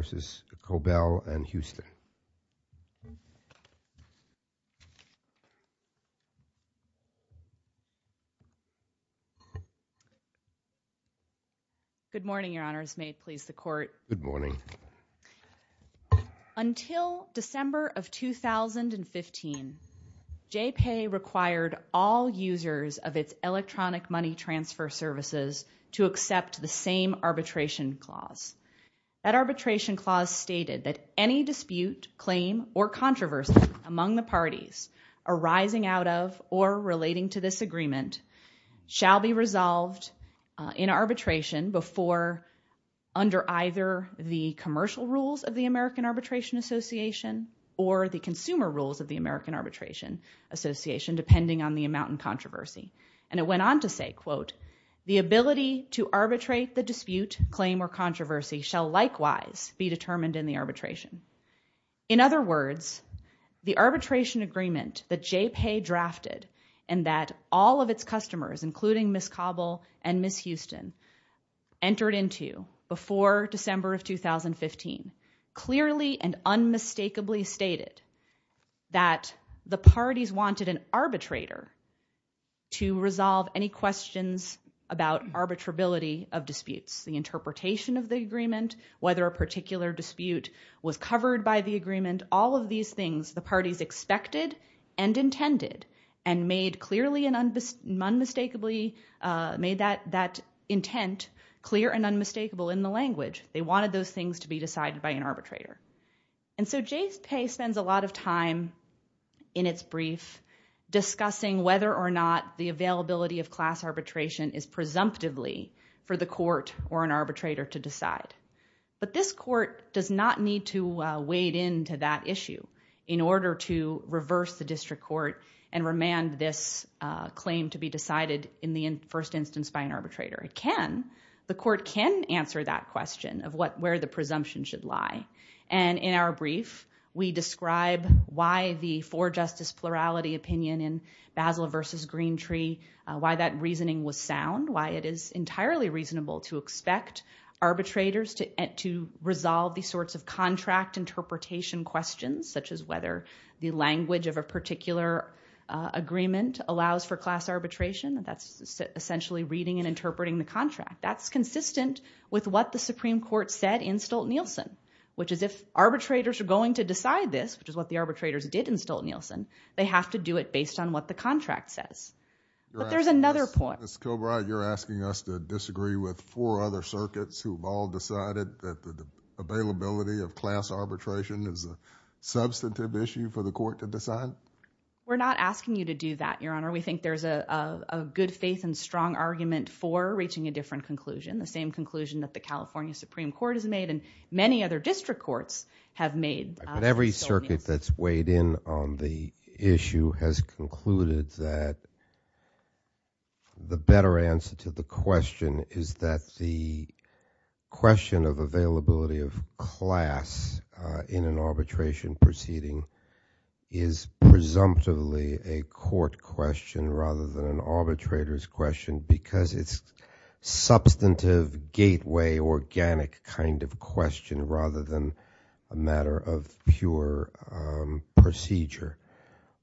v. Kobel & Houston. Good morning, Your Honors. May it please the Court. Good morning. Until December of 2015, J-PAY required all users of its electronic money transfer services to accept the same arbitration clause. That arbitration clause stated that any dispute, claim, or controversy among the parties arising out of or relating to this agreement shall be resolved in arbitration before under either the commercial rules of the American Arbitration Association or the consumer rules of the American Arbitration Association, depending on the amount in controversy. And it went on to say, quote, the ability to arbitrate the dispute, claim, or controversy shall likewise be determined in the arbitration. In other words, the arbitration agreement that J-PAY drafted and that all of its customers, including Ms. Kobel and Ms. Houston, entered into before December of 2015 clearly and unmistakably stated that the parties wanted an arbitrator to resolve any questions about arbitrability of disputes. The interpretation of the agreement, whether a particular dispute was covered by the agreement, all of these things the parties expected and intended and made clearly and unmistakably made that intent clear and unmistakable in the language. They wanted those things to be decided by an arbitrator. And so J-PAY spends a lot of time in its brief discussing whether or not the availability of class arbitration is presumptively for the court or an arbitrator to decide. But this court does not need to wade into that issue in order to reverse the district court and remand this claim to be decided in the first instance by an arbitrator. It can. The court can answer that question of where the presumption should lie. And in our brief, we describe why the for-justice plurality opinion in Basel v. Green Tree, why that reasoning was sound, why it is entirely reasonable to expect arbitrators to resolve these sorts of contract interpretation questions, such as whether the language of a particular agreement allows for class arbitration. That's essentially reading and interpreting the contract. That's consistent with what the Supreme Court said in Stolt-Nielsen, which is if arbitrators are going to decide this, which is what the arbitrators did in Stolt-Nielsen, they have to do it based on what the contract says. But there's another point. Ms. Kilbride, you're asking us to disagree with four other circuits who have all decided that the availability of class arbitration is a substantive issue for the court to decide? We're not asking you to do that, Your Honor. We think there's a good faith and strong argument for reaching a different conclusion, the same conclusion that the California Supreme Court has made and many other district courts have made. But every circuit that's weighed in on the issue has concluded that the better answer to the question is that the question of availability of class in an arbitration proceeding is presumptively a court question rather than an arbitrator's question because it's substantive gateway organic kind of question rather than a matter of pure procedure.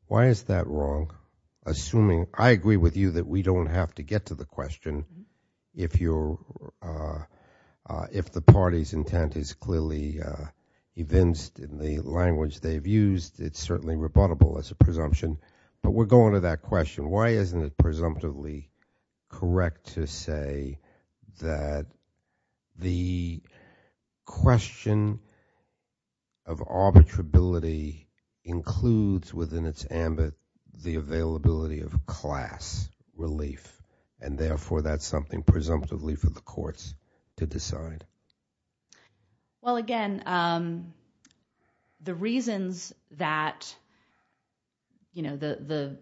Why is that wrong? Assuming, I agree with you that we don't have to get to the question if the party's intent is clearly evinced in the language they've used, it's certainly rebuttable as a presumption. But we're going to that question. Why isn't it presumptively correct to say that the question of arbitrability includes within its ambit the availability of class relief and therefore that's something presumptively for the courts to decide? Well again, the reasons that, you know, the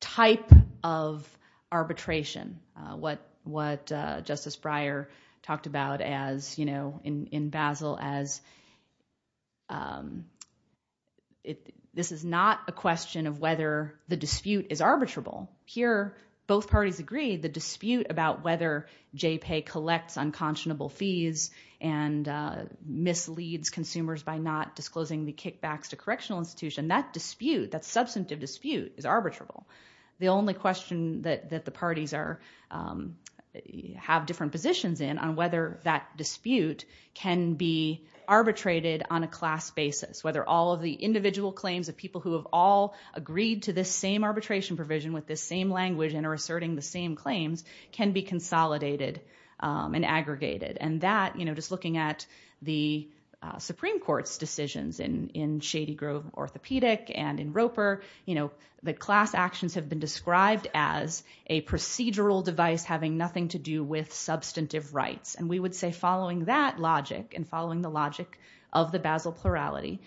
type of arbitration, what Justice Breyer talked about as, you know, in Basel as this is not a question of whether the dispute is arbitrable. Here both parties agree the dispute about whether J-PAY collects unconscionable fees and misleads consumers by not disclosing the kickbacks to correctional institution. That dispute, that substantive dispute is arbitrable. The only question that the parties are, have different positions in on whether that dispute can be arbitrated on a class basis, whether all of the individual claims of people who have all agreed to this same arbitration provision with this same language and are asserting the same claims can be consolidated and aggregated. And that, you know, just looking at the Supreme Court's decisions in Shady Grove Orthopedic and in Roper, you know, the class actions have been described as a procedural device having nothing to do with substantive rights. And we would say following that logic and following the logic of the Basel plurality,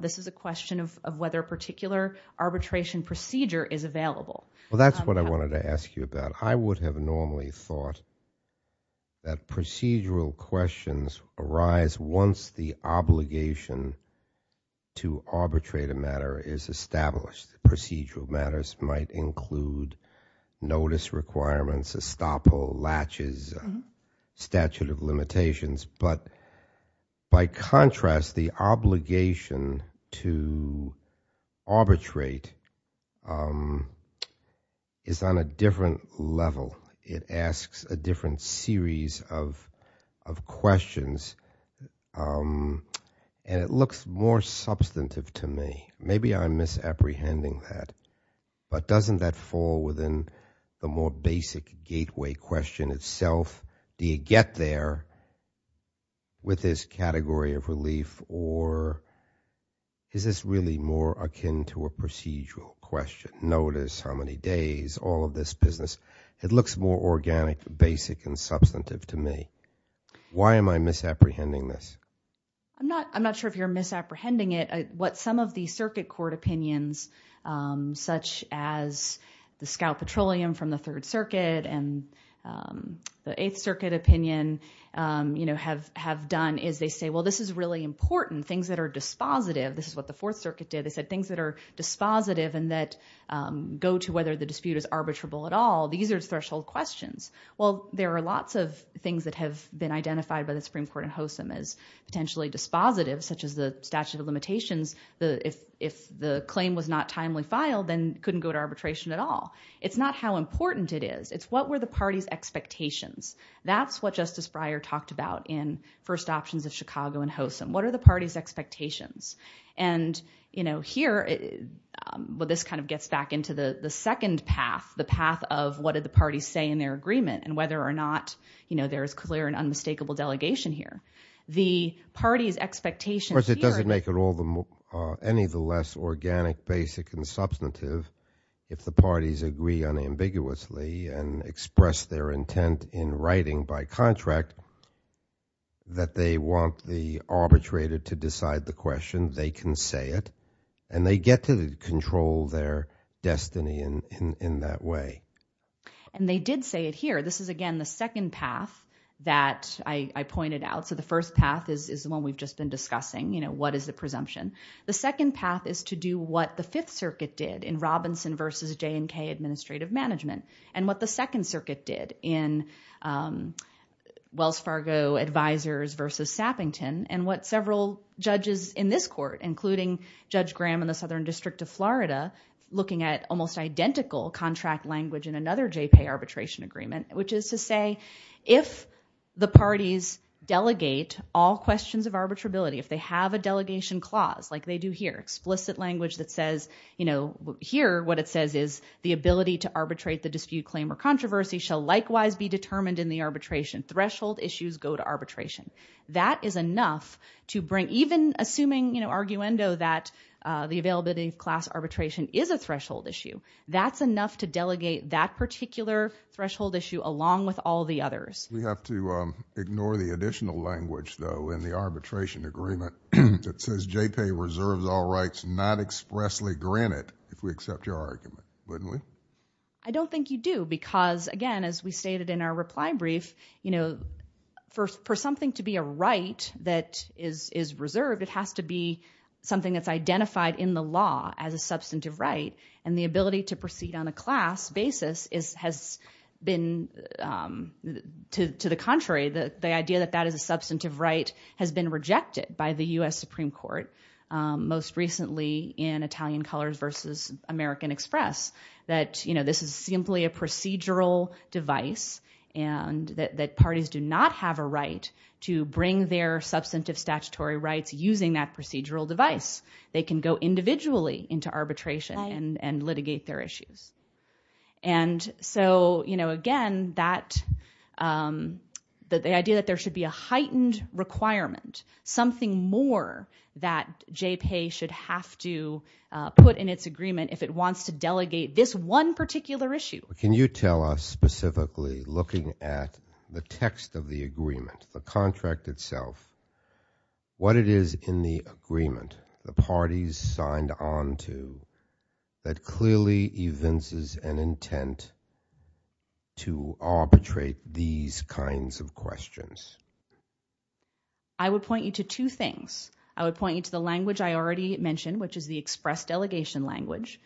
this is a question of whether a particular arbitration procedure is available. Well that's what I wanted to ask you about. I would have normally thought that procedural questions arise once the obligation to arbitrate a matter is established. Procedural matters might include notice requirements, estoppel, latches, statute of limitations. But by contrast, the obligation to arbitrate is on a different level. It asks a different series of questions and it looks more substantive to me. Maybe I'm misapprehending that. But doesn't that fall within the more basic gateway question itself? Do you get there with this category of relief or is this really more akin to a procedural question? Notice, how many days, all of this business. It looks more organic, basic, and substantive to me. Why am I misapprehending this? I'm not sure if you're misapprehending it. What some of the circuit court opinions, such as the Scout Petroleum from the Third Circuit and the Eighth Circuit opinion, you know, have done is they say, well this is really important. Things that are dispositive. This is what the Fourth Circuit did. They said things that are dispositive and that go to whether the dispute is arbitrable at all. These are threshold questions. Well, there are lots of things that have been identified by the Supreme Court and HOSM as potentially dispositive, such as the statute of limitations. If the claim was not timely filed, then it couldn't go to arbitration at all. It's not how important it is. It's what were the party's expectations. That's what Justice Breyer talked about in First Options of Chicago and HOSM. What are the party's expectations? And, you know, here, well this kind of gets back into the second path, the path of what did the parties say in their agreement and whether or not, you know, there is clear and unmistakable delegation here. The party's expectations here are that- Of course, it doesn't make it any of the less organic, basic, and substantive if the parties agree unambiguously and express their intent in writing by contract that they want the claim, they can say it, and they get to control their destiny in that way. And they did say it here. This is, again, the second path that I pointed out. So the first path is the one we've just been discussing, you know, what is the presumption. The second path is to do what the Fifth Circuit did in Robinson v. J&K Administrative Management and what the Second Circuit did in Wells Fargo Advisors v. Sappington and what several judges in this court, including Judge Graham in the Southern District of Florida, looking at almost identical contract language in another J-PAY arbitration agreement, which is to say if the parties delegate all questions of arbitrability, if they have a delegation clause like they do here, explicit language that says, you know, here what it says is the ability to arbitrate the dispute claim or controversy shall likewise be determined in the arbitration threshold issues go to arbitration. That is enough to bring even assuming, you know, arguendo that the availability of class arbitration is a threshold issue. That's enough to delegate that particular threshold issue along with all the others. We have to ignore the additional language, though, in the arbitration agreement that says J-PAY reserves all rights not expressly granted if we accept your argument, wouldn't we? I don't think you do because, again, as we stated in our reply brief, you know, for something to be a right that is reserved, it has to be something that's identified in the law as a substantive right, and the ability to proceed on a class basis has been to the contrary. The idea that that is a substantive right has been rejected by the U.S. Supreme Court most recently in Italian Colors vs. American Express that, you know, this is simply a procedural device and that parties do not have a right to bring their substantive statutory rights using that procedural device. They can go individually into arbitration and litigate their issues. And so, you know, again, that the idea that there should be a heightened requirement, something more that J-PAY should have to put in its agreement if it wants to delegate this one particular issue. Can you tell us specifically, looking at the text of the agreement, the contract itself, what it is in the agreement the parties signed on to that clearly evinces an intent to arbitrate these kinds of questions? I would point you to two things. I would point you to the language I already mentioned, which is the express delegation language.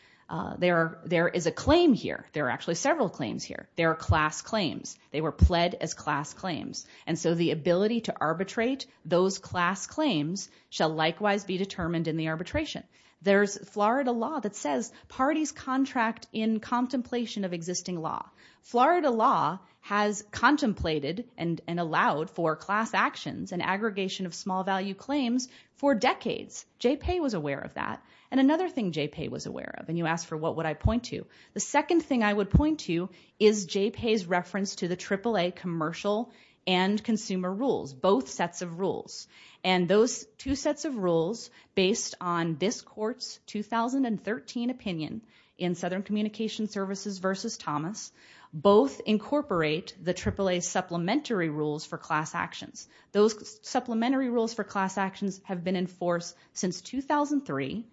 There is a claim here. There are actually several claims here. There are class claims. They were pled as class claims. And so the ability to arbitrate those class claims shall likewise be determined in the arbitration. There's Florida law that says parties contract in contemplation of existing law. Florida law has contemplated and allowed for class actions and aggregation of small value claims for decades. J-PAY was aware of that. And another thing J-PAY was aware of, and you asked for what would I point to, the second thing I would point to is J-PAY's reference to the AAA commercial and consumer rules, both sets of rules. And those two sets of rules, based on this court's 2013 opinion in Southern Communication Services versus Thomas, both incorporate the AAA's supplementary rules for class actions. Those supplementary rules for class actions have been in force since 2003.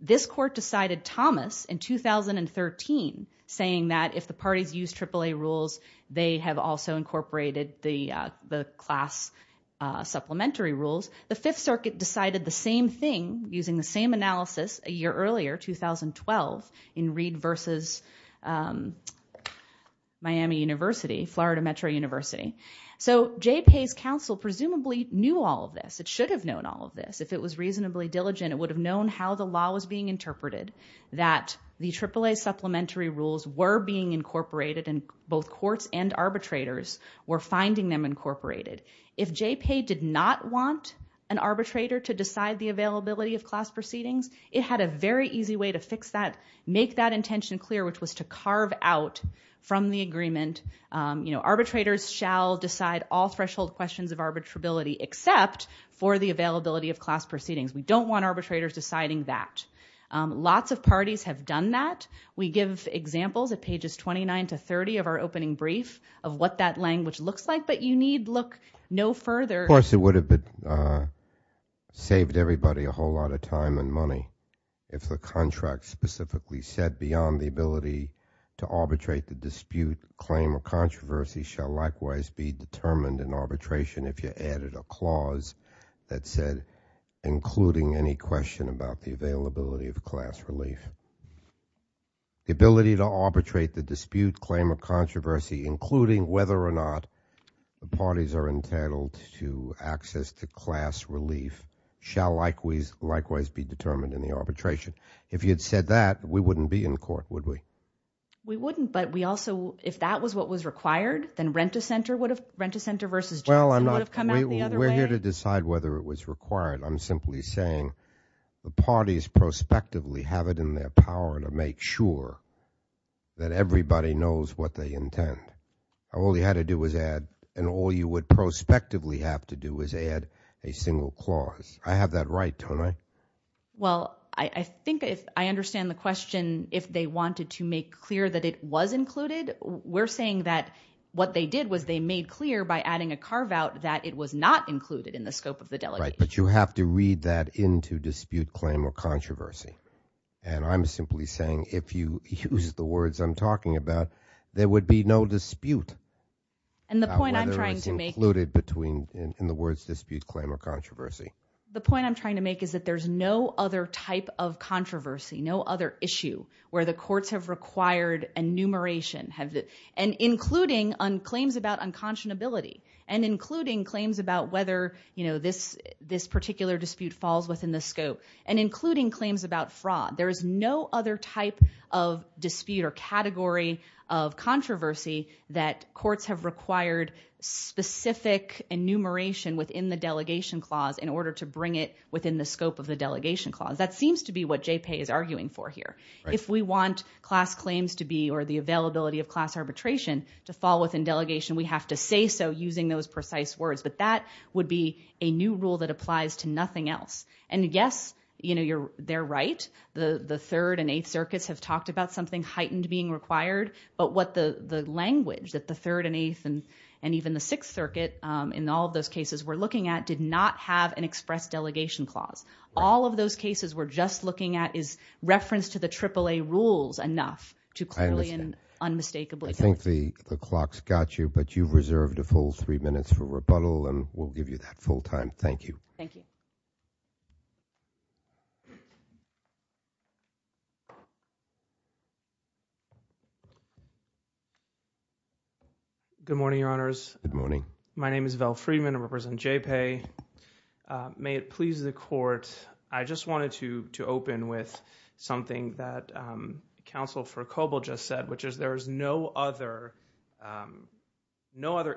This court decided Thomas in 2013 saying that if the parties use AAA rules, they have also incorporated the class supplementary rules. The Fifth Circuit decided the same thing using the same analysis a year earlier, 2012, in Reed versus Miami University, Florida Metro University. So J-PAY's counsel presumably knew all of this. It should have known all of this. If it was reasonably diligent, it would have known how the law was being interpreted, that the AAA supplementary rules were being incorporated, and both courts and arbitrators were finding them incorporated. If J-PAY did not want an arbitrator to decide the availability of class proceedings, it had a very easy way to fix that, make that intention clear, which was to carve out from the agreement, you know, arbitrators shall decide all threshold questions of arbitrability except for the availability of class proceedings. We don't want arbitrators deciding that. Lots of parties have done that. We give examples at pages 29 to 30 of our opening brief of what that language looks like, but you need look no further. Of course, it would have saved everybody a whole lot of time and money if the contract specifically said beyond the ability to arbitrate the dispute, claim or controversy shall likewise be determined in arbitration if you added a clause that said including any question about the availability of class relief. The ability to arbitrate the dispute, claim or controversy including whether or not the parties are entitled to access to class relief shall likewise be determined in the arbitration. If you had said that, we wouldn't be in court, would we? We wouldn't, but we also, if that was what was required, then Rent-A-Center would have, Rent-A-Center versus Johnson would have come out the other way. Well, I'm not, we're here to decide whether it was required. I'm simply saying the parties prospectively have it in their power to make sure that everybody knows what they intend. All you had to do was add, and all you would prospectively have to do is add a single clause. I have that right, don't I? Well, I think if I understand the question, if they wanted to make clear that it was included, we're saying that what they did was they made clear by adding a carve out that it was not included in the scope of the delegate. Right, but you have to read that into dispute, claim or controversy. And I'm simply saying if you use the words I'm talking about, there would be no dispute. And the point I'm trying to make. About whether it's included between, in the words dispute, claim or controversy. The point I'm trying to make is that there's no other type of controversy, no other issue where the courts have required enumeration, and including claims about unconscionability, and including claims about whether this particular dispute falls within the scope, and including claims about fraud. There is no other type of dispute or category of controversy that courts have required specific enumeration within the delegation clause in order to bring it within the scope of the delegation clause. That seems to be what J-PAY is arguing for here. If we want class claims to be, or the availability of class arbitration to fall within delegation, we have to say so using those precise words. But that would be a new rule that applies to nothing else. And yes, they're right. The Third and Eighth Circuits have talked about something heightened being required. But what the language that the Third and Eighth, and even the Sixth Circuit, in all of those cases we're looking at, did not have an express delegation clause. All of those cases we're just looking at is reference to the AAA rules enough to clearly and unmistakably. I think the clock's got you, but you've reserved a full three minutes for rebuttal, and we'll give you that full time. Thank you. Good morning, Your Honors. My name is Val Friedman. I represent J-PAY. May it please the Court, I just wanted to open with something that Counsel for Koble just said, which is there is no other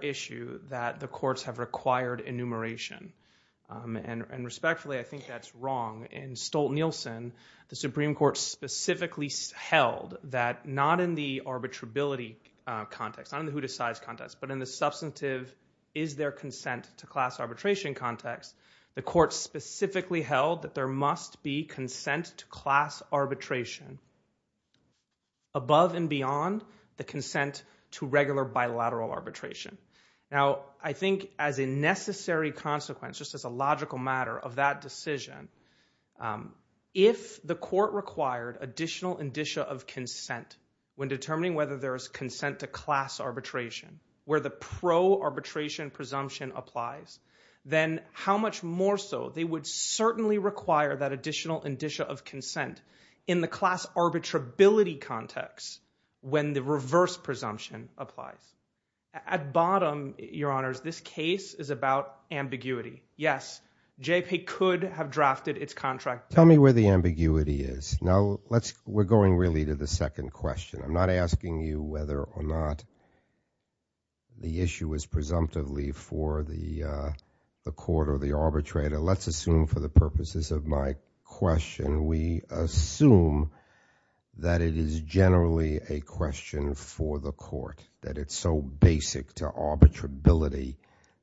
issue that the courts have required enumeration. And respectfully, I think that's wrong. In Stolt-Nielsen, the Supreme Court specifically held that not in the arbitrability context, not in the who decides context, but in the substantive is there consent to class arbitration context, the court specifically held that there must be consent to class arbitration above and beyond the consent to regular bilateral arbitration. Now, I think as a necessary consequence, just as a logical matter of that decision, if the court required additional indicia of consent when determining whether there is consent to class arbitration, where the pro-arbitration presumption applies, then how much more so they would certainly require that additional indicia of consent in the class arbitrability context when the reverse presumption applies. At bottom, Your Honors, this case is about ambiguity. Yes, J-PAY could have drafted its contract. Tell me where the ambiguity is. Now, we're going really to the second question. I'm not asking you whether or not the issue is presumptively for the court or the arbitrator. Let's assume for the purposes of my question, we assume that it is generally a question for the court, that it's so basic to arbitrability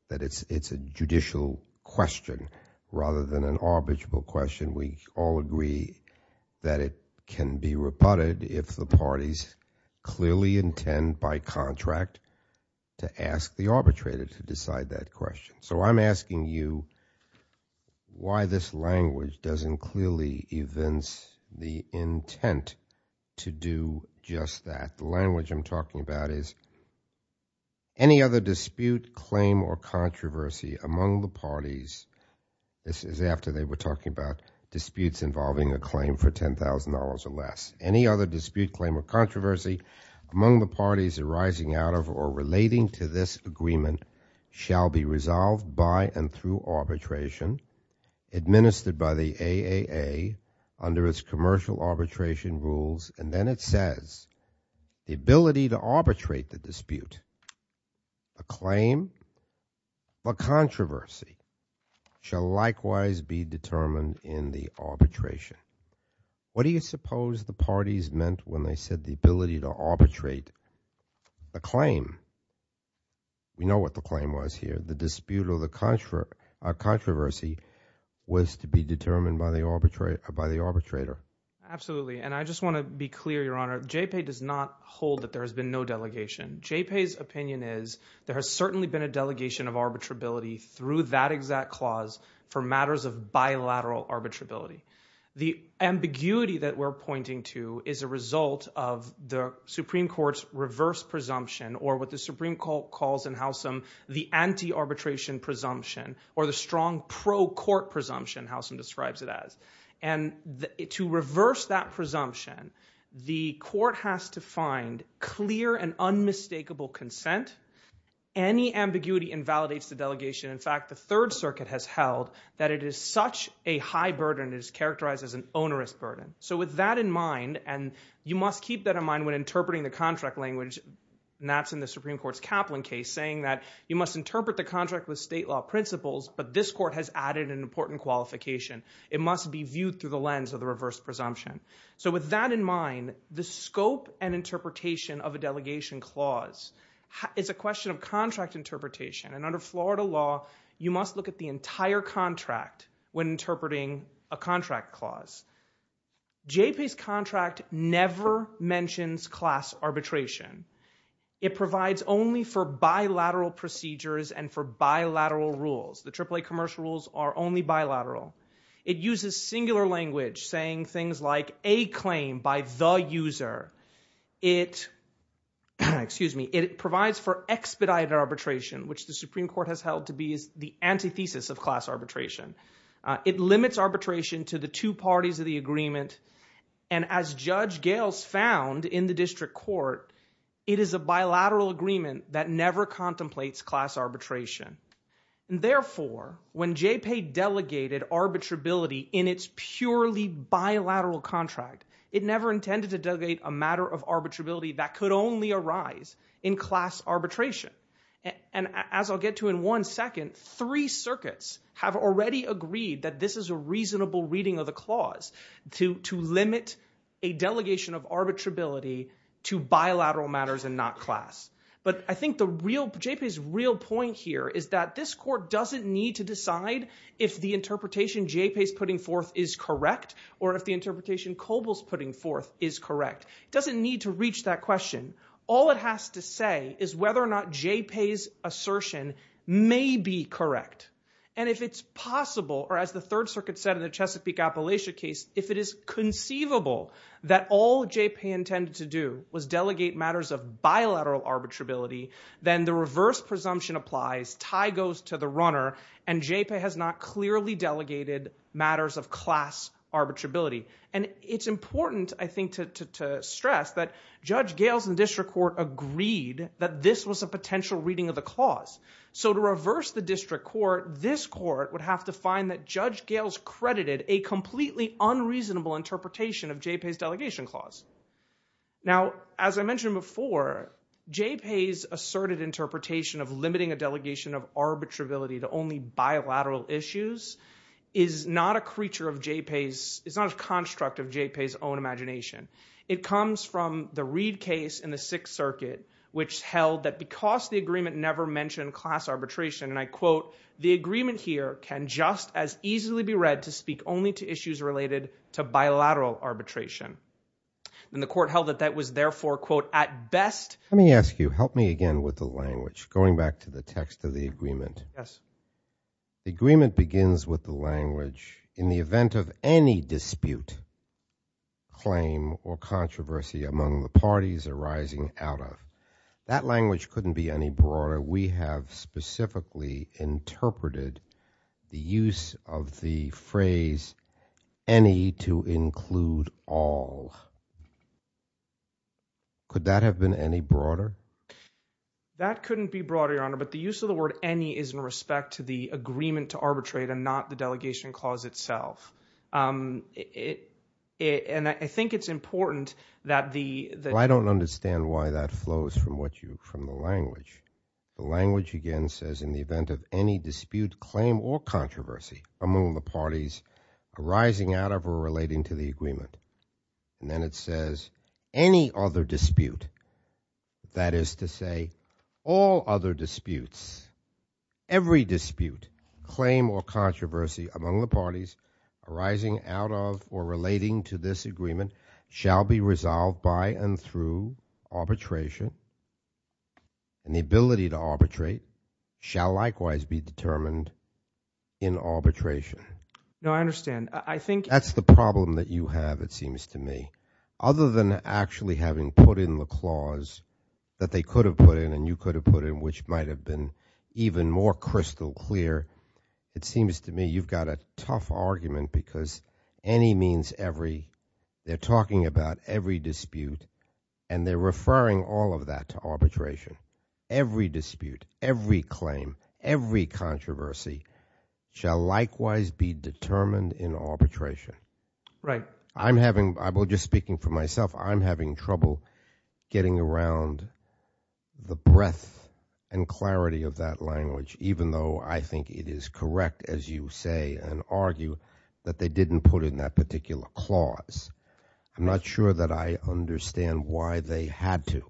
that it's a judicial question rather than an arbitrable question. We all agree that it can be rebutted if the parties clearly intend by contract to ask the arbitrator to decide that question. So I'm asking you why this language doesn't clearly evince the intent to do just that. The language I'm talking about is, any other dispute, claim, or controversy among the parties, this is after they were talking about disputes involving a claim for $10,000 or less. Any other dispute, claim, or controversy among the parties arising out of or relating to this agreement shall be resolved by and through arbitration, administered by the AAA under its commercial arbitration rules, and then it says, the ability to arbitrate the dispute, the claim, or controversy shall likewise be determined in the arbitration. What do you suppose the parties meant when they said the ability to arbitrate the claim? We know what the claim was here. The dispute or the controversy was to be determined by the arbitrator. Absolutely, and I just want to be clear, Your Honor. JPA does not hold that there has been no delegation. JPA's opinion is, there has certainly been a delegation of arbitrability through that exact clause for matters of bilateral arbitrability. The ambiguity that we're pointing to is a result of the Supreme Court's reverse presumption, or what the Supreme Court calls in Howsam, the anti-arbitration presumption, or the strong pro-court presumption, Howsam describes it as. To reverse that presumption, the court has to find clear and unmistakable consent. Any ambiguity invalidates the delegation. In fact, the Third Circuit has held that it is such a high burden, it is characterized as an onerous burden. So with that in mind, and you must keep that in mind when interpreting the contract language, and that's in the Supreme Court's Kaplan case, saying that you must interpret the contract with state law principles, but this court has added an important qualification. It must be viewed through the lens of the reverse presumption. So with that in mind, the scope and interpretation of a delegation clause is a question of contract interpretation, and under Florida law, you must look at the entire contract when interpreting a contract clause. JPA's contract never mentions class arbitration. It provides only for bilateral procedures and for bilateral rules. The AAA commercial rules are only bilateral. It uses singular language saying things like a claim by the user. It provides for expedited arbitration which the Supreme Court has held to be the antithesis of class arbitration. It limits arbitration to the two parties of the agreement, and as Judge Gales found in the district court, it is a bilateral agreement that never contemplates class arbitration. Therefore, when JPA delegated arbitrability in its purely bilateral contract, it never intended to delegate a matter of arbitrability that could only arise in class arbitration. And as I'll get to in one second, three circuits have already agreed that this is a reasonable reading of the clause to limit a delegation of arbitrability to bilateral matters and not class. But I think JPA's real point here is that this court doesn't need to decide if the interpretation JPA's putting forth is correct or if the interpretation COBOL's putting forth is correct. It doesn't need to reach that question. All it has to say is whether or not JPA's assertion may be correct. And if it's possible, or as the third circuit said in the Chesapeake Appalachia case, if it is conceivable that all JPA intended to do was delegate matters of bilateral arbitrability, then the reverse presumption applies, tie goes to the runner, and JPA has not clearly delegated matters of class arbitrability. And it's important, I think, to stress that Judge Gales in the district court agreed that this was a potential reading of the clause. So to reverse the district court, this court would have to find that Judge Gales credited a completely unreasonable interpretation of JPA's delegation clause. Now, as I mentioned before, JPA's asserted interpretation of limiting a delegation of arbitrability to only bilateral issues is not a creature of JPA's, it's not a construct of JPA's own imagination. It comes from the Reid case in the Sixth Circuit, which held that because the agreement never mentioned class arbitration, and I quote, the agreement here can just as easily be read to speak only to issues related to bilateral arbitration. And the court held that that was therefore, quote, at best. Let me ask you, help me again with the language, going back to the text of the agreement. Yes. The agreement begins with the language, in the event of any dispute, claim, or controversy among the parties arising out of, that language couldn't be any broader. We have specifically interpreted the use of the phrase any to include all. Could that have been any broader? That couldn't be broader, Your Honor, but the use of the word any is in respect to the agreement to arbitrate and not the delegation clause itself. And I think it's important that the- Well, I don't understand why that flows from what you, from the language. The language again says in the event of any dispute, claim, or controversy among the parties arising out of or relating to the agreement. And then it says any other dispute, that is to say all other disputes, every dispute, claim, or controversy among the parties arising out of or relating to this agreement shall be resolved by and through arbitration and the claim shall likewise be determined in arbitration. No, I understand. I think- That's the problem that you have, it seems to me. Other than actually having put in the clause that they could have put in and you could have put in, which might have been even more crystal clear, it seems to me you've got a tough argument because any means every. They're talking about every dispute and they're referring all of that to arbitration. Every dispute, every claim, every controversy shall likewise be determined in arbitration. Right. I'm having, I'm just speaking for myself, I'm having trouble getting around the breadth and clarity of that language even though I think it is correct as you say and argue that they didn't put in that particular clause. I'm not sure that I understand why they had to.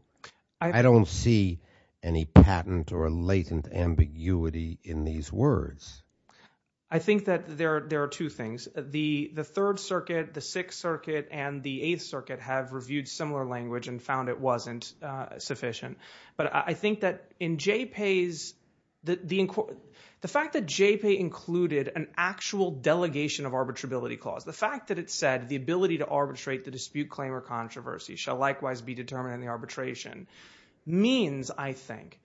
I- I don't see any patent or latent ambiguity in these words. I think that there are two things. The Third Circuit, the Sixth Circuit, and the Eighth Circuit have reviewed similar language and found it wasn't sufficient. But I think that in JPAY's, the fact that JPAY included an actual delegation of arbitrability clause, the fact that it said the ability to arbitrate the dispute, claim, or controversy shall likewise be determined in the arbitration means, I think,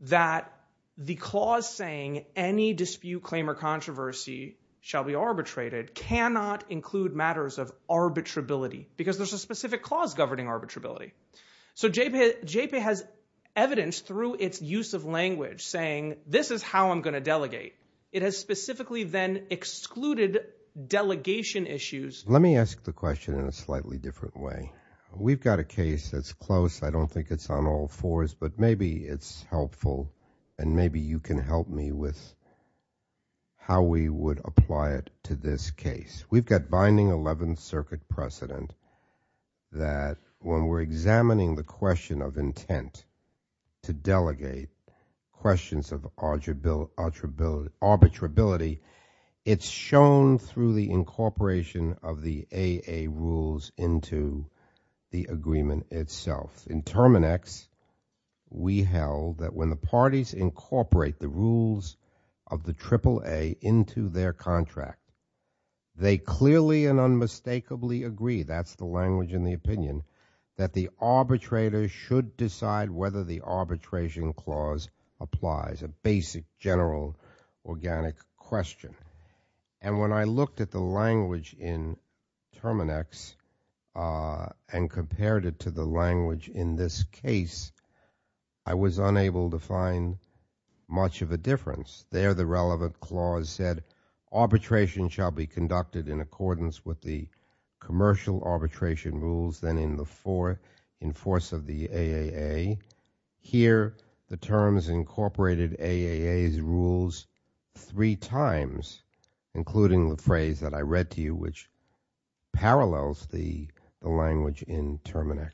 that the clause saying any dispute, claim, or controversy shall be arbitrated cannot include matters of arbitrability because there's a specific clause governing arbitrability. So JPAY has evidence through its use of language saying this is how I'm going to delegate. It has specifically then excluded delegation issues. Let me ask the question in a slightly different way. We've got a case that's close. I don't think it's on all fours, but maybe it's helpful and maybe you can help me with how we would apply it to this case. We've got Binding 11th Circuit precedent that when we're examining the question of intent to delegate questions of arbitrability, it's shown through the incorporation of the AA rules into the agreement itself. In Terminex, we held that when the parties incorporate the rules of the AAA into their contract, they clearly and unmistakably agree, that's the language in the opinion, that the arbitrator should decide whether the arbitration clause applies, a basic, general, organic question. And when I looked at the language in Terminex and compared it to the language in this case, I was unable to find much of a difference. There the relevant clause said arbitration shall be conducted in accordance with the commercial arbitration rules then in force of the AAA. Here, the terms incorporated AAA's rules three times, including the phrase that I read to you which parallels the language in Terminex.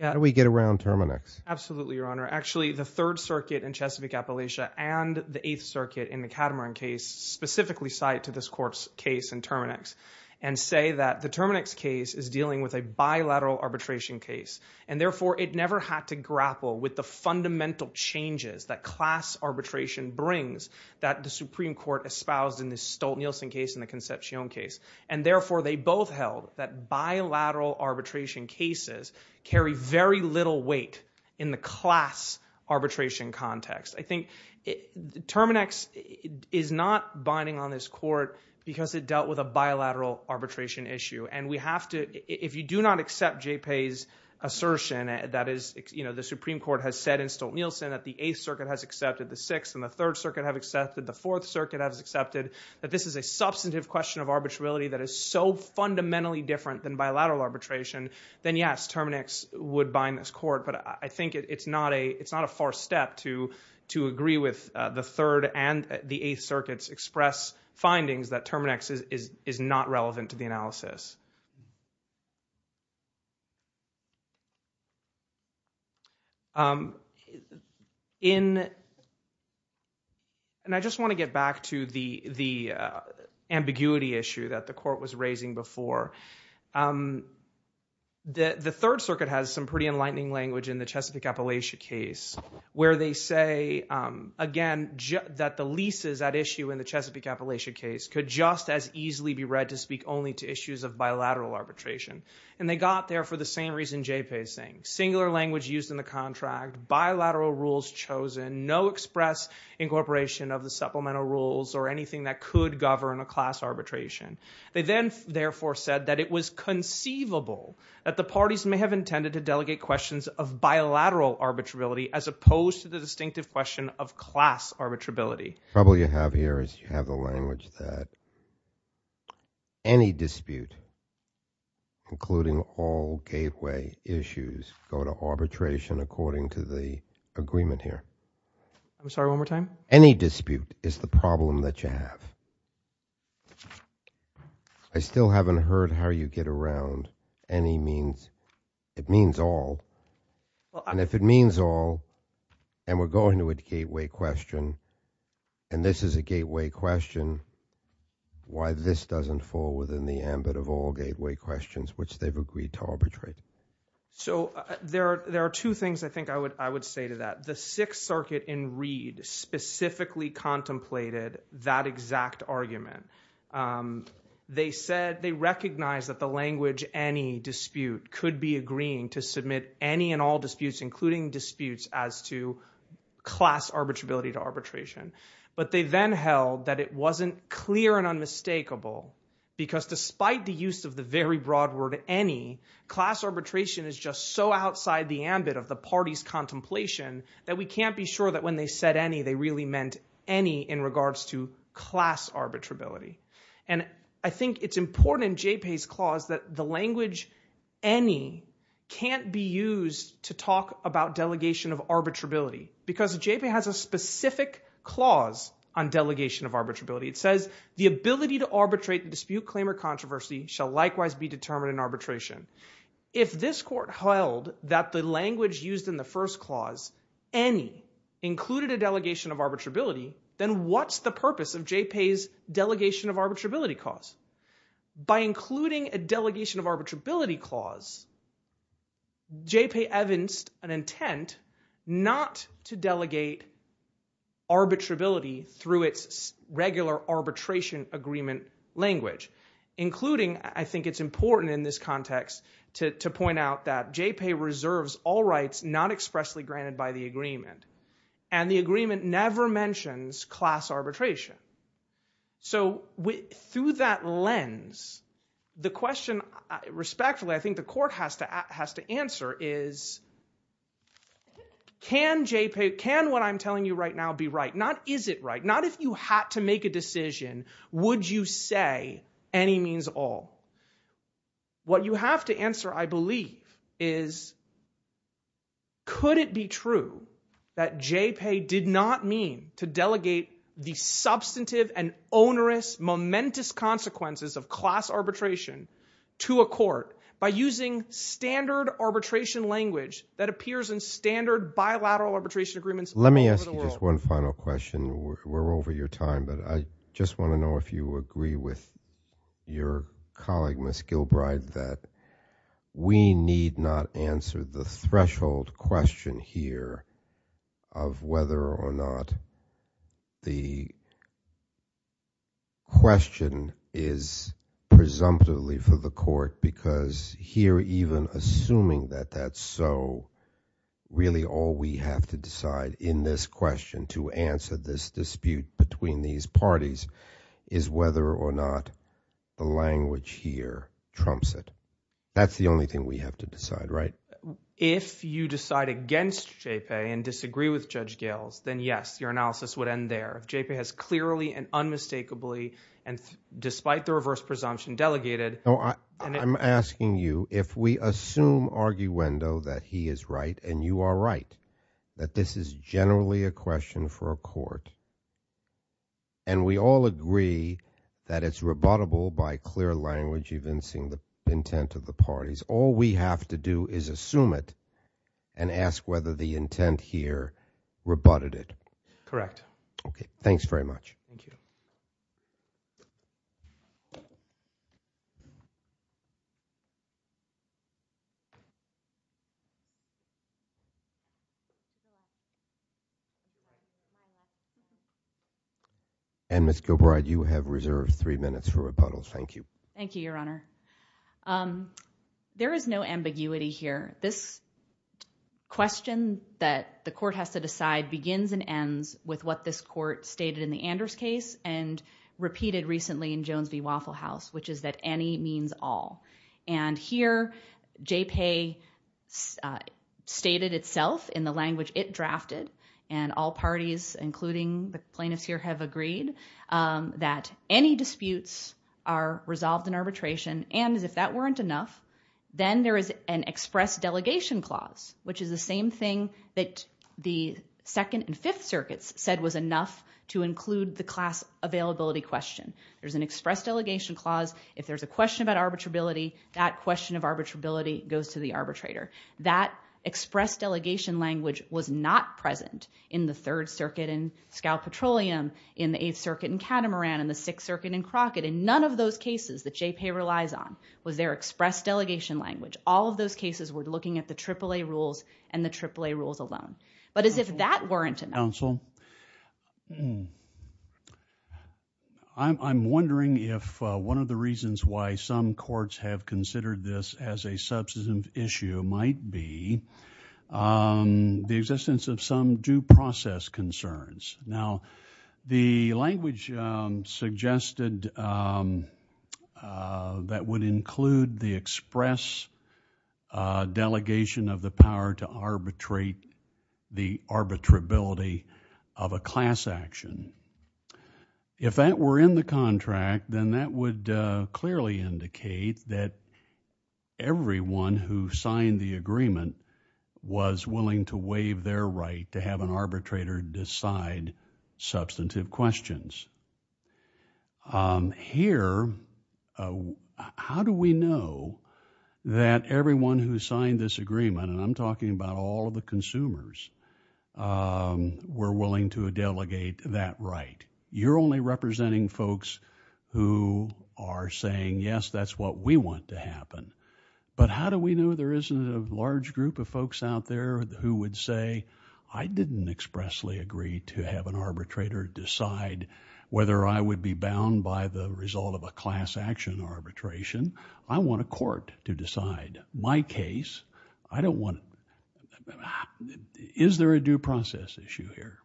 How do we get around Terminex? Absolutely, Your Honor. Actually, the Third Circuit in Chesapeake Appalachia and the Eighth Circuit in the Catamaran case specifically cite to this court's case in Terminex and say that the Terminex case is dealing with a bilateral arbitration case. And therefore, it never had to grapple with the fundamental changes that class arbitration brings that the Supreme Court espoused in the Stolt-Nielsen case and the Concepcion case. And therefore, they both held that bilateral arbitration cases carry very little weight in the class arbitration context. I think Terminex is not binding on this court because it dealt with a bilateral arbitration issue. And we have to, if you do not accept J-Pay's assertion that is, you know, the Supreme Court has said in Stolt-Nielsen that the Eighth Circuit has accepted, the Sixth and the Third Circuit have accepted, the Fourth Circuit has accepted that this is a substantive question of arbitrarility that is so fundamentally different than bilateral arbitration, then yes, Terminex would bind this court. But I think it's not a far step to agree with the Third and the Eighth Circuit's express findings that Terminex is not relevant to the analysis. And I just want to get back to the ambiguity issue that the court was raising before. The Third Circuit has some pretty enlightening language in the Chesapeake-Appalachia case where they say, again, that the leases at issue in the Chesapeake-Appalachia case could just as easily be read to speak only to issues of bilateral arbitration. And they got there for the same reason J-Pay is saying, singular language used in the contract, bilateral rules chosen, no express incorporation of the supplemental rules or anything that could govern a class arbitration. They then, therefore, said that it was conceivable that the parties may have as opposed to the distinctive question of class arbitrability. The trouble you have here is you have the language that any dispute, including all gateway issues, go to arbitration according to the agreement here. I'm sorry, one more time? Any dispute is the problem that you have. I still haven't heard how you get around any dispute if it means all. And if it means all, and we're going to a gateway question, and this is a gateway question, why this doesn't fall within the ambit of all gateway questions which they've agreed to arbitrate? So there are two things I think I would say to that. The Sixth Circuit in Reed specifically contemplated that exact argument. They recognized that the language any dispute could be agreeing to submit any and all disputes, including disputes as to class arbitrability to arbitration. But they then held that it wasn't clear and unmistakable because despite the use of the very broad word any, class arbitration is just so outside the ambit of the party's contemplation that we can't be sure that when they said any they really meant any in regards to class arbitrability. And I think it's important in JPay's clause that the language any can't be used to talk about delegation of arbitrability because JPay has a specific clause on delegation of arbitrability. It says the ability to arbitrate the dispute claim or controversy shall likewise be determined in arbitration. If this court held that the language used in the first clause, any, included a delegation of arbitrability, then what's the purpose of JPay's delegation of arbitrability clause? By including a delegation of arbitrability clause, JPay evidenced an intent not to delegate arbitrability through its regular arbitration agreement language, including, I think it's important in this context to point out that JPay reserves all rights not expressly granted by the agreement. And the agreement never mentions class arbitration. So through that lens, the question, respectfully, I think the court has to answer is, can JPay, can what I'm telling you right now be right? Not is it right? Not if you had to make a decision. What you have to answer, I believe, is could it be true that JPay did not mean to delegate the substantive and onerous, momentous consequences of class arbitration to a court by using standard arbitration language that appears in standard bilateral arbitration agreements all over the world? Let me ask you just one final question. We're over your time, but I just want to know if you agree with your colleague, Ms. Gilbride, that we need not answer the threshold question here of whether or not the question is presumptively for the court, because here even assuming that that's so, really all we have to decide in this question to answer this dispute between these parties is whether or not the language here trumps it. That's the only thing we have to decide, right? If you decide against JPay and disagree with Judge Gales, then yes, your analysis would end there. JPay has clearly and unmistakably and despite the reverse presumption delegated. I'm asking you, if we assume arguendo that he is right and you are right, that this is generally a question for a court, and we all agree that it's rebuttable by clear language evincing the intent of the parties, all we have to do is assume it and ask whether the intent here rebutted it. Correct. Okay. Thanks very much. Ms. Gilbride, you have reserved three minutes for rebuttal. Thank you. Thank you, Your Honor. There is no ambiguity here. This question that the court has to decide begins and ends with what this court stated in the Anders case and repeated recently in Jones v. Waffle House, which is that any means all. Here, JPay stated itself in the Anders case, and all parties, including the plaintiffs here, have agreed that any disputes are resolved in arbitration, and if that weren't enough, then there is an express delegation clause, which is the same thing that the Second and Fifth Circuits said was enough to include the class availability question. There's an express delegation clause. If there's a question about arbitrability, that question of arbitrability goes to the arbitrator. That express delegation language was not present in the Third Circuit in Scowl Petroleum, in the Eighth Circuit in Catamaran, in the Sixth Circuit in Crockett. None of those cases that JPay relies on was their express delegation language. All of those cases were looking at the AAA rules and the AAA rules alone. But as if that weren't enough. Counsel, I'm wondering if one of the reasons why some courts have considered this as a the existence of some due process concerns. Now, the language suggested that would include the express delegation of the power to arbitrate the arbitrability of a class action. If that were in the contract, then that would clearly indicate that everyone who signed the agreement was willing to waive their right to have an arbitrator decide substantive questions. Here, how do we know that everyone who signed this agreement, and I'm talking about all of the consumers, were willing to delegate that right? You're only representing folks who are saying yes, that's what we want to happen. But how do we know there isn't a large group of folks out there who would say, I didn't expressly agree to have an arbitrator decide whether I would be bound by the result of a class action arbitration. I want a court to decide. My case, I don't want... Is there a due process issue here?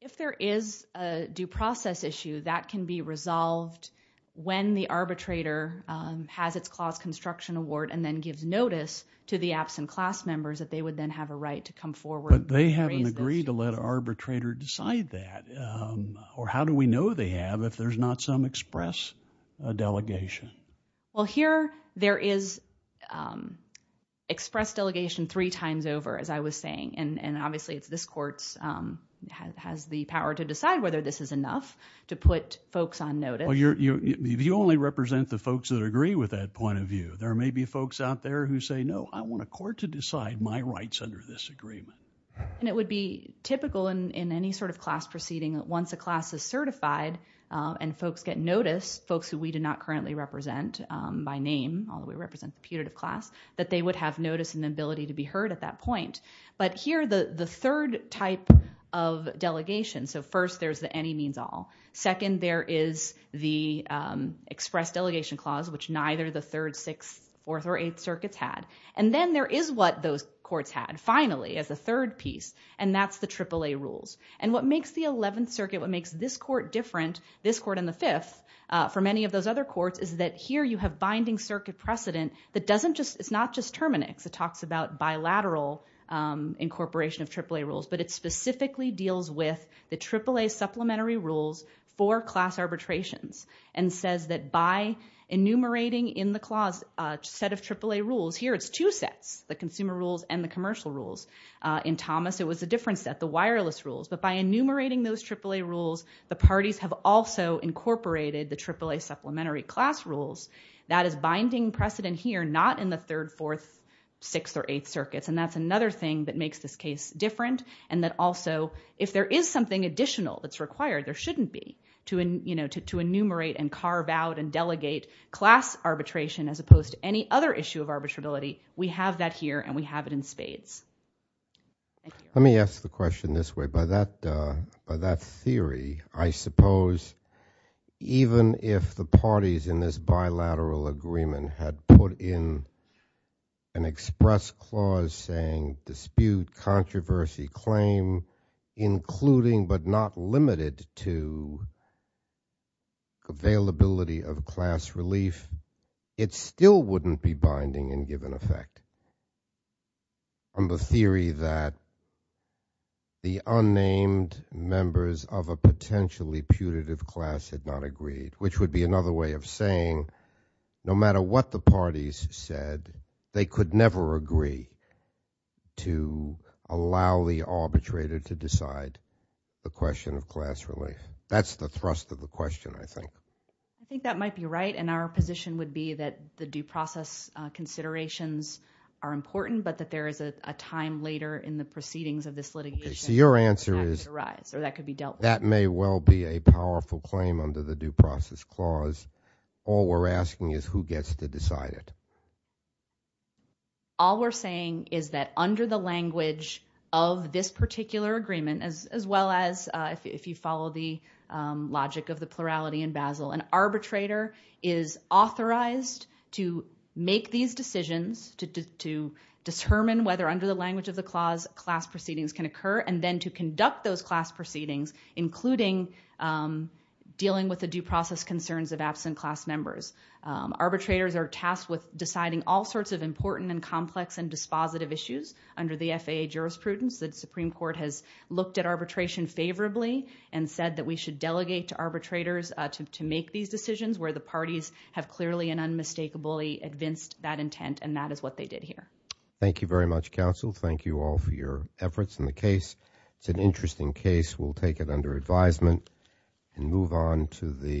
If there is a due process issue, that can be resolved when the arbitrator has its clause construction award and then gives notice to the absent class members that they would then have a right to come forward... But they haven't agreed to let an arbitrator decide that. How do we know they have if there's not some express delegation? There is express delegation three times over, as I was saying. Obviously, this court has the power to decide whether this is enough to put folks on notice. You only represent the folks that agree with that point of view. There may be folks out there who say, no, I want a court to decide my rights under this agreement. It would be typical in any sort of class proceeding, once a class is certified and folks get notice, folks who we do not currently represent by name, although we represent the putative class, that they would have notice and the ability to be heard at that point. But here, the third type of delegation... So first, there's the any means all. Second, there is the express delegation clause, which neither the third, sixth, fourth, or eighth circuits had. And then there is what those courts had, finally, as a third piece, and that's the AAA rules. And what makes the 11th Circuit, what makes this court different, this court and the fifth, for many of those other courts, is that here you have binding circuit precedent that doesn't just... It's not just Terminix. It talks about bilateral incorporation of AAA rules, but it specifically deals with the AAA supplementary rules for class arbitrations and says that by enumerating in the clause a set of AAA rules... Here, it's two sets, the consumer rules and the commercial rules. In Thomas, it was a different set, the wireless rules. But by enumerating those AAA rules, the parties have also incorporated the AAA supplementary class rules. That is binding precedent here, not in the third, fourth, sixth, or eighth circuits. And that's another thing that makes this case different and that also, if there is something additional that's required, there shouldn't be, to enumerate and carve out and delegate class arbitration as opposed to any other issue of arbitrability, we have that here and we have it in spades. Let me ask the question this way. By that theory, I suppose even if the parties in this bilateral agreement had put in an express clause saying dispute, controversy, claim, including but not limited to availability of class relief, it still wouldn't be binding in given effect. From the theory that the unnamed members of a potentially putative class had not agreed, which would be another way of saying no matter what the parties said, they could never agree to allow the arbitrator to decide the question of class relief. That's the thrust of the question, I think. I think that might be right and our position would be that the due process considerations are important but that there is a time later in the proceedings of this litigation for that to arise or that could be dealt with. That may well be a powerful claim under the due process clause. All we're asking is who gets to decide it. All we're saying is that under the language of this particular agreement, as well as if you follow the logic of the plurality in Basel, an arbitrator is authorized to make these decisions to determine whether under the language of the clause class proceedings can occur and then to conduct those class proceedings, including dealing with the due process concerns of absent class members. Arbitrators are tasked with deciding all sorts of important and complex and dispositive issues under the FAA jurisprudence. The Supreme Court has looked at arbitration favorably and said that we should delegate to arbitrators to make these decisions where the parties have clearly and unmistakably advanced that intent and that is what they did here. Thank you very much counsel. Thank you all for your efforts in the case. It's an interesting case. We'll take it under advisement and move on to the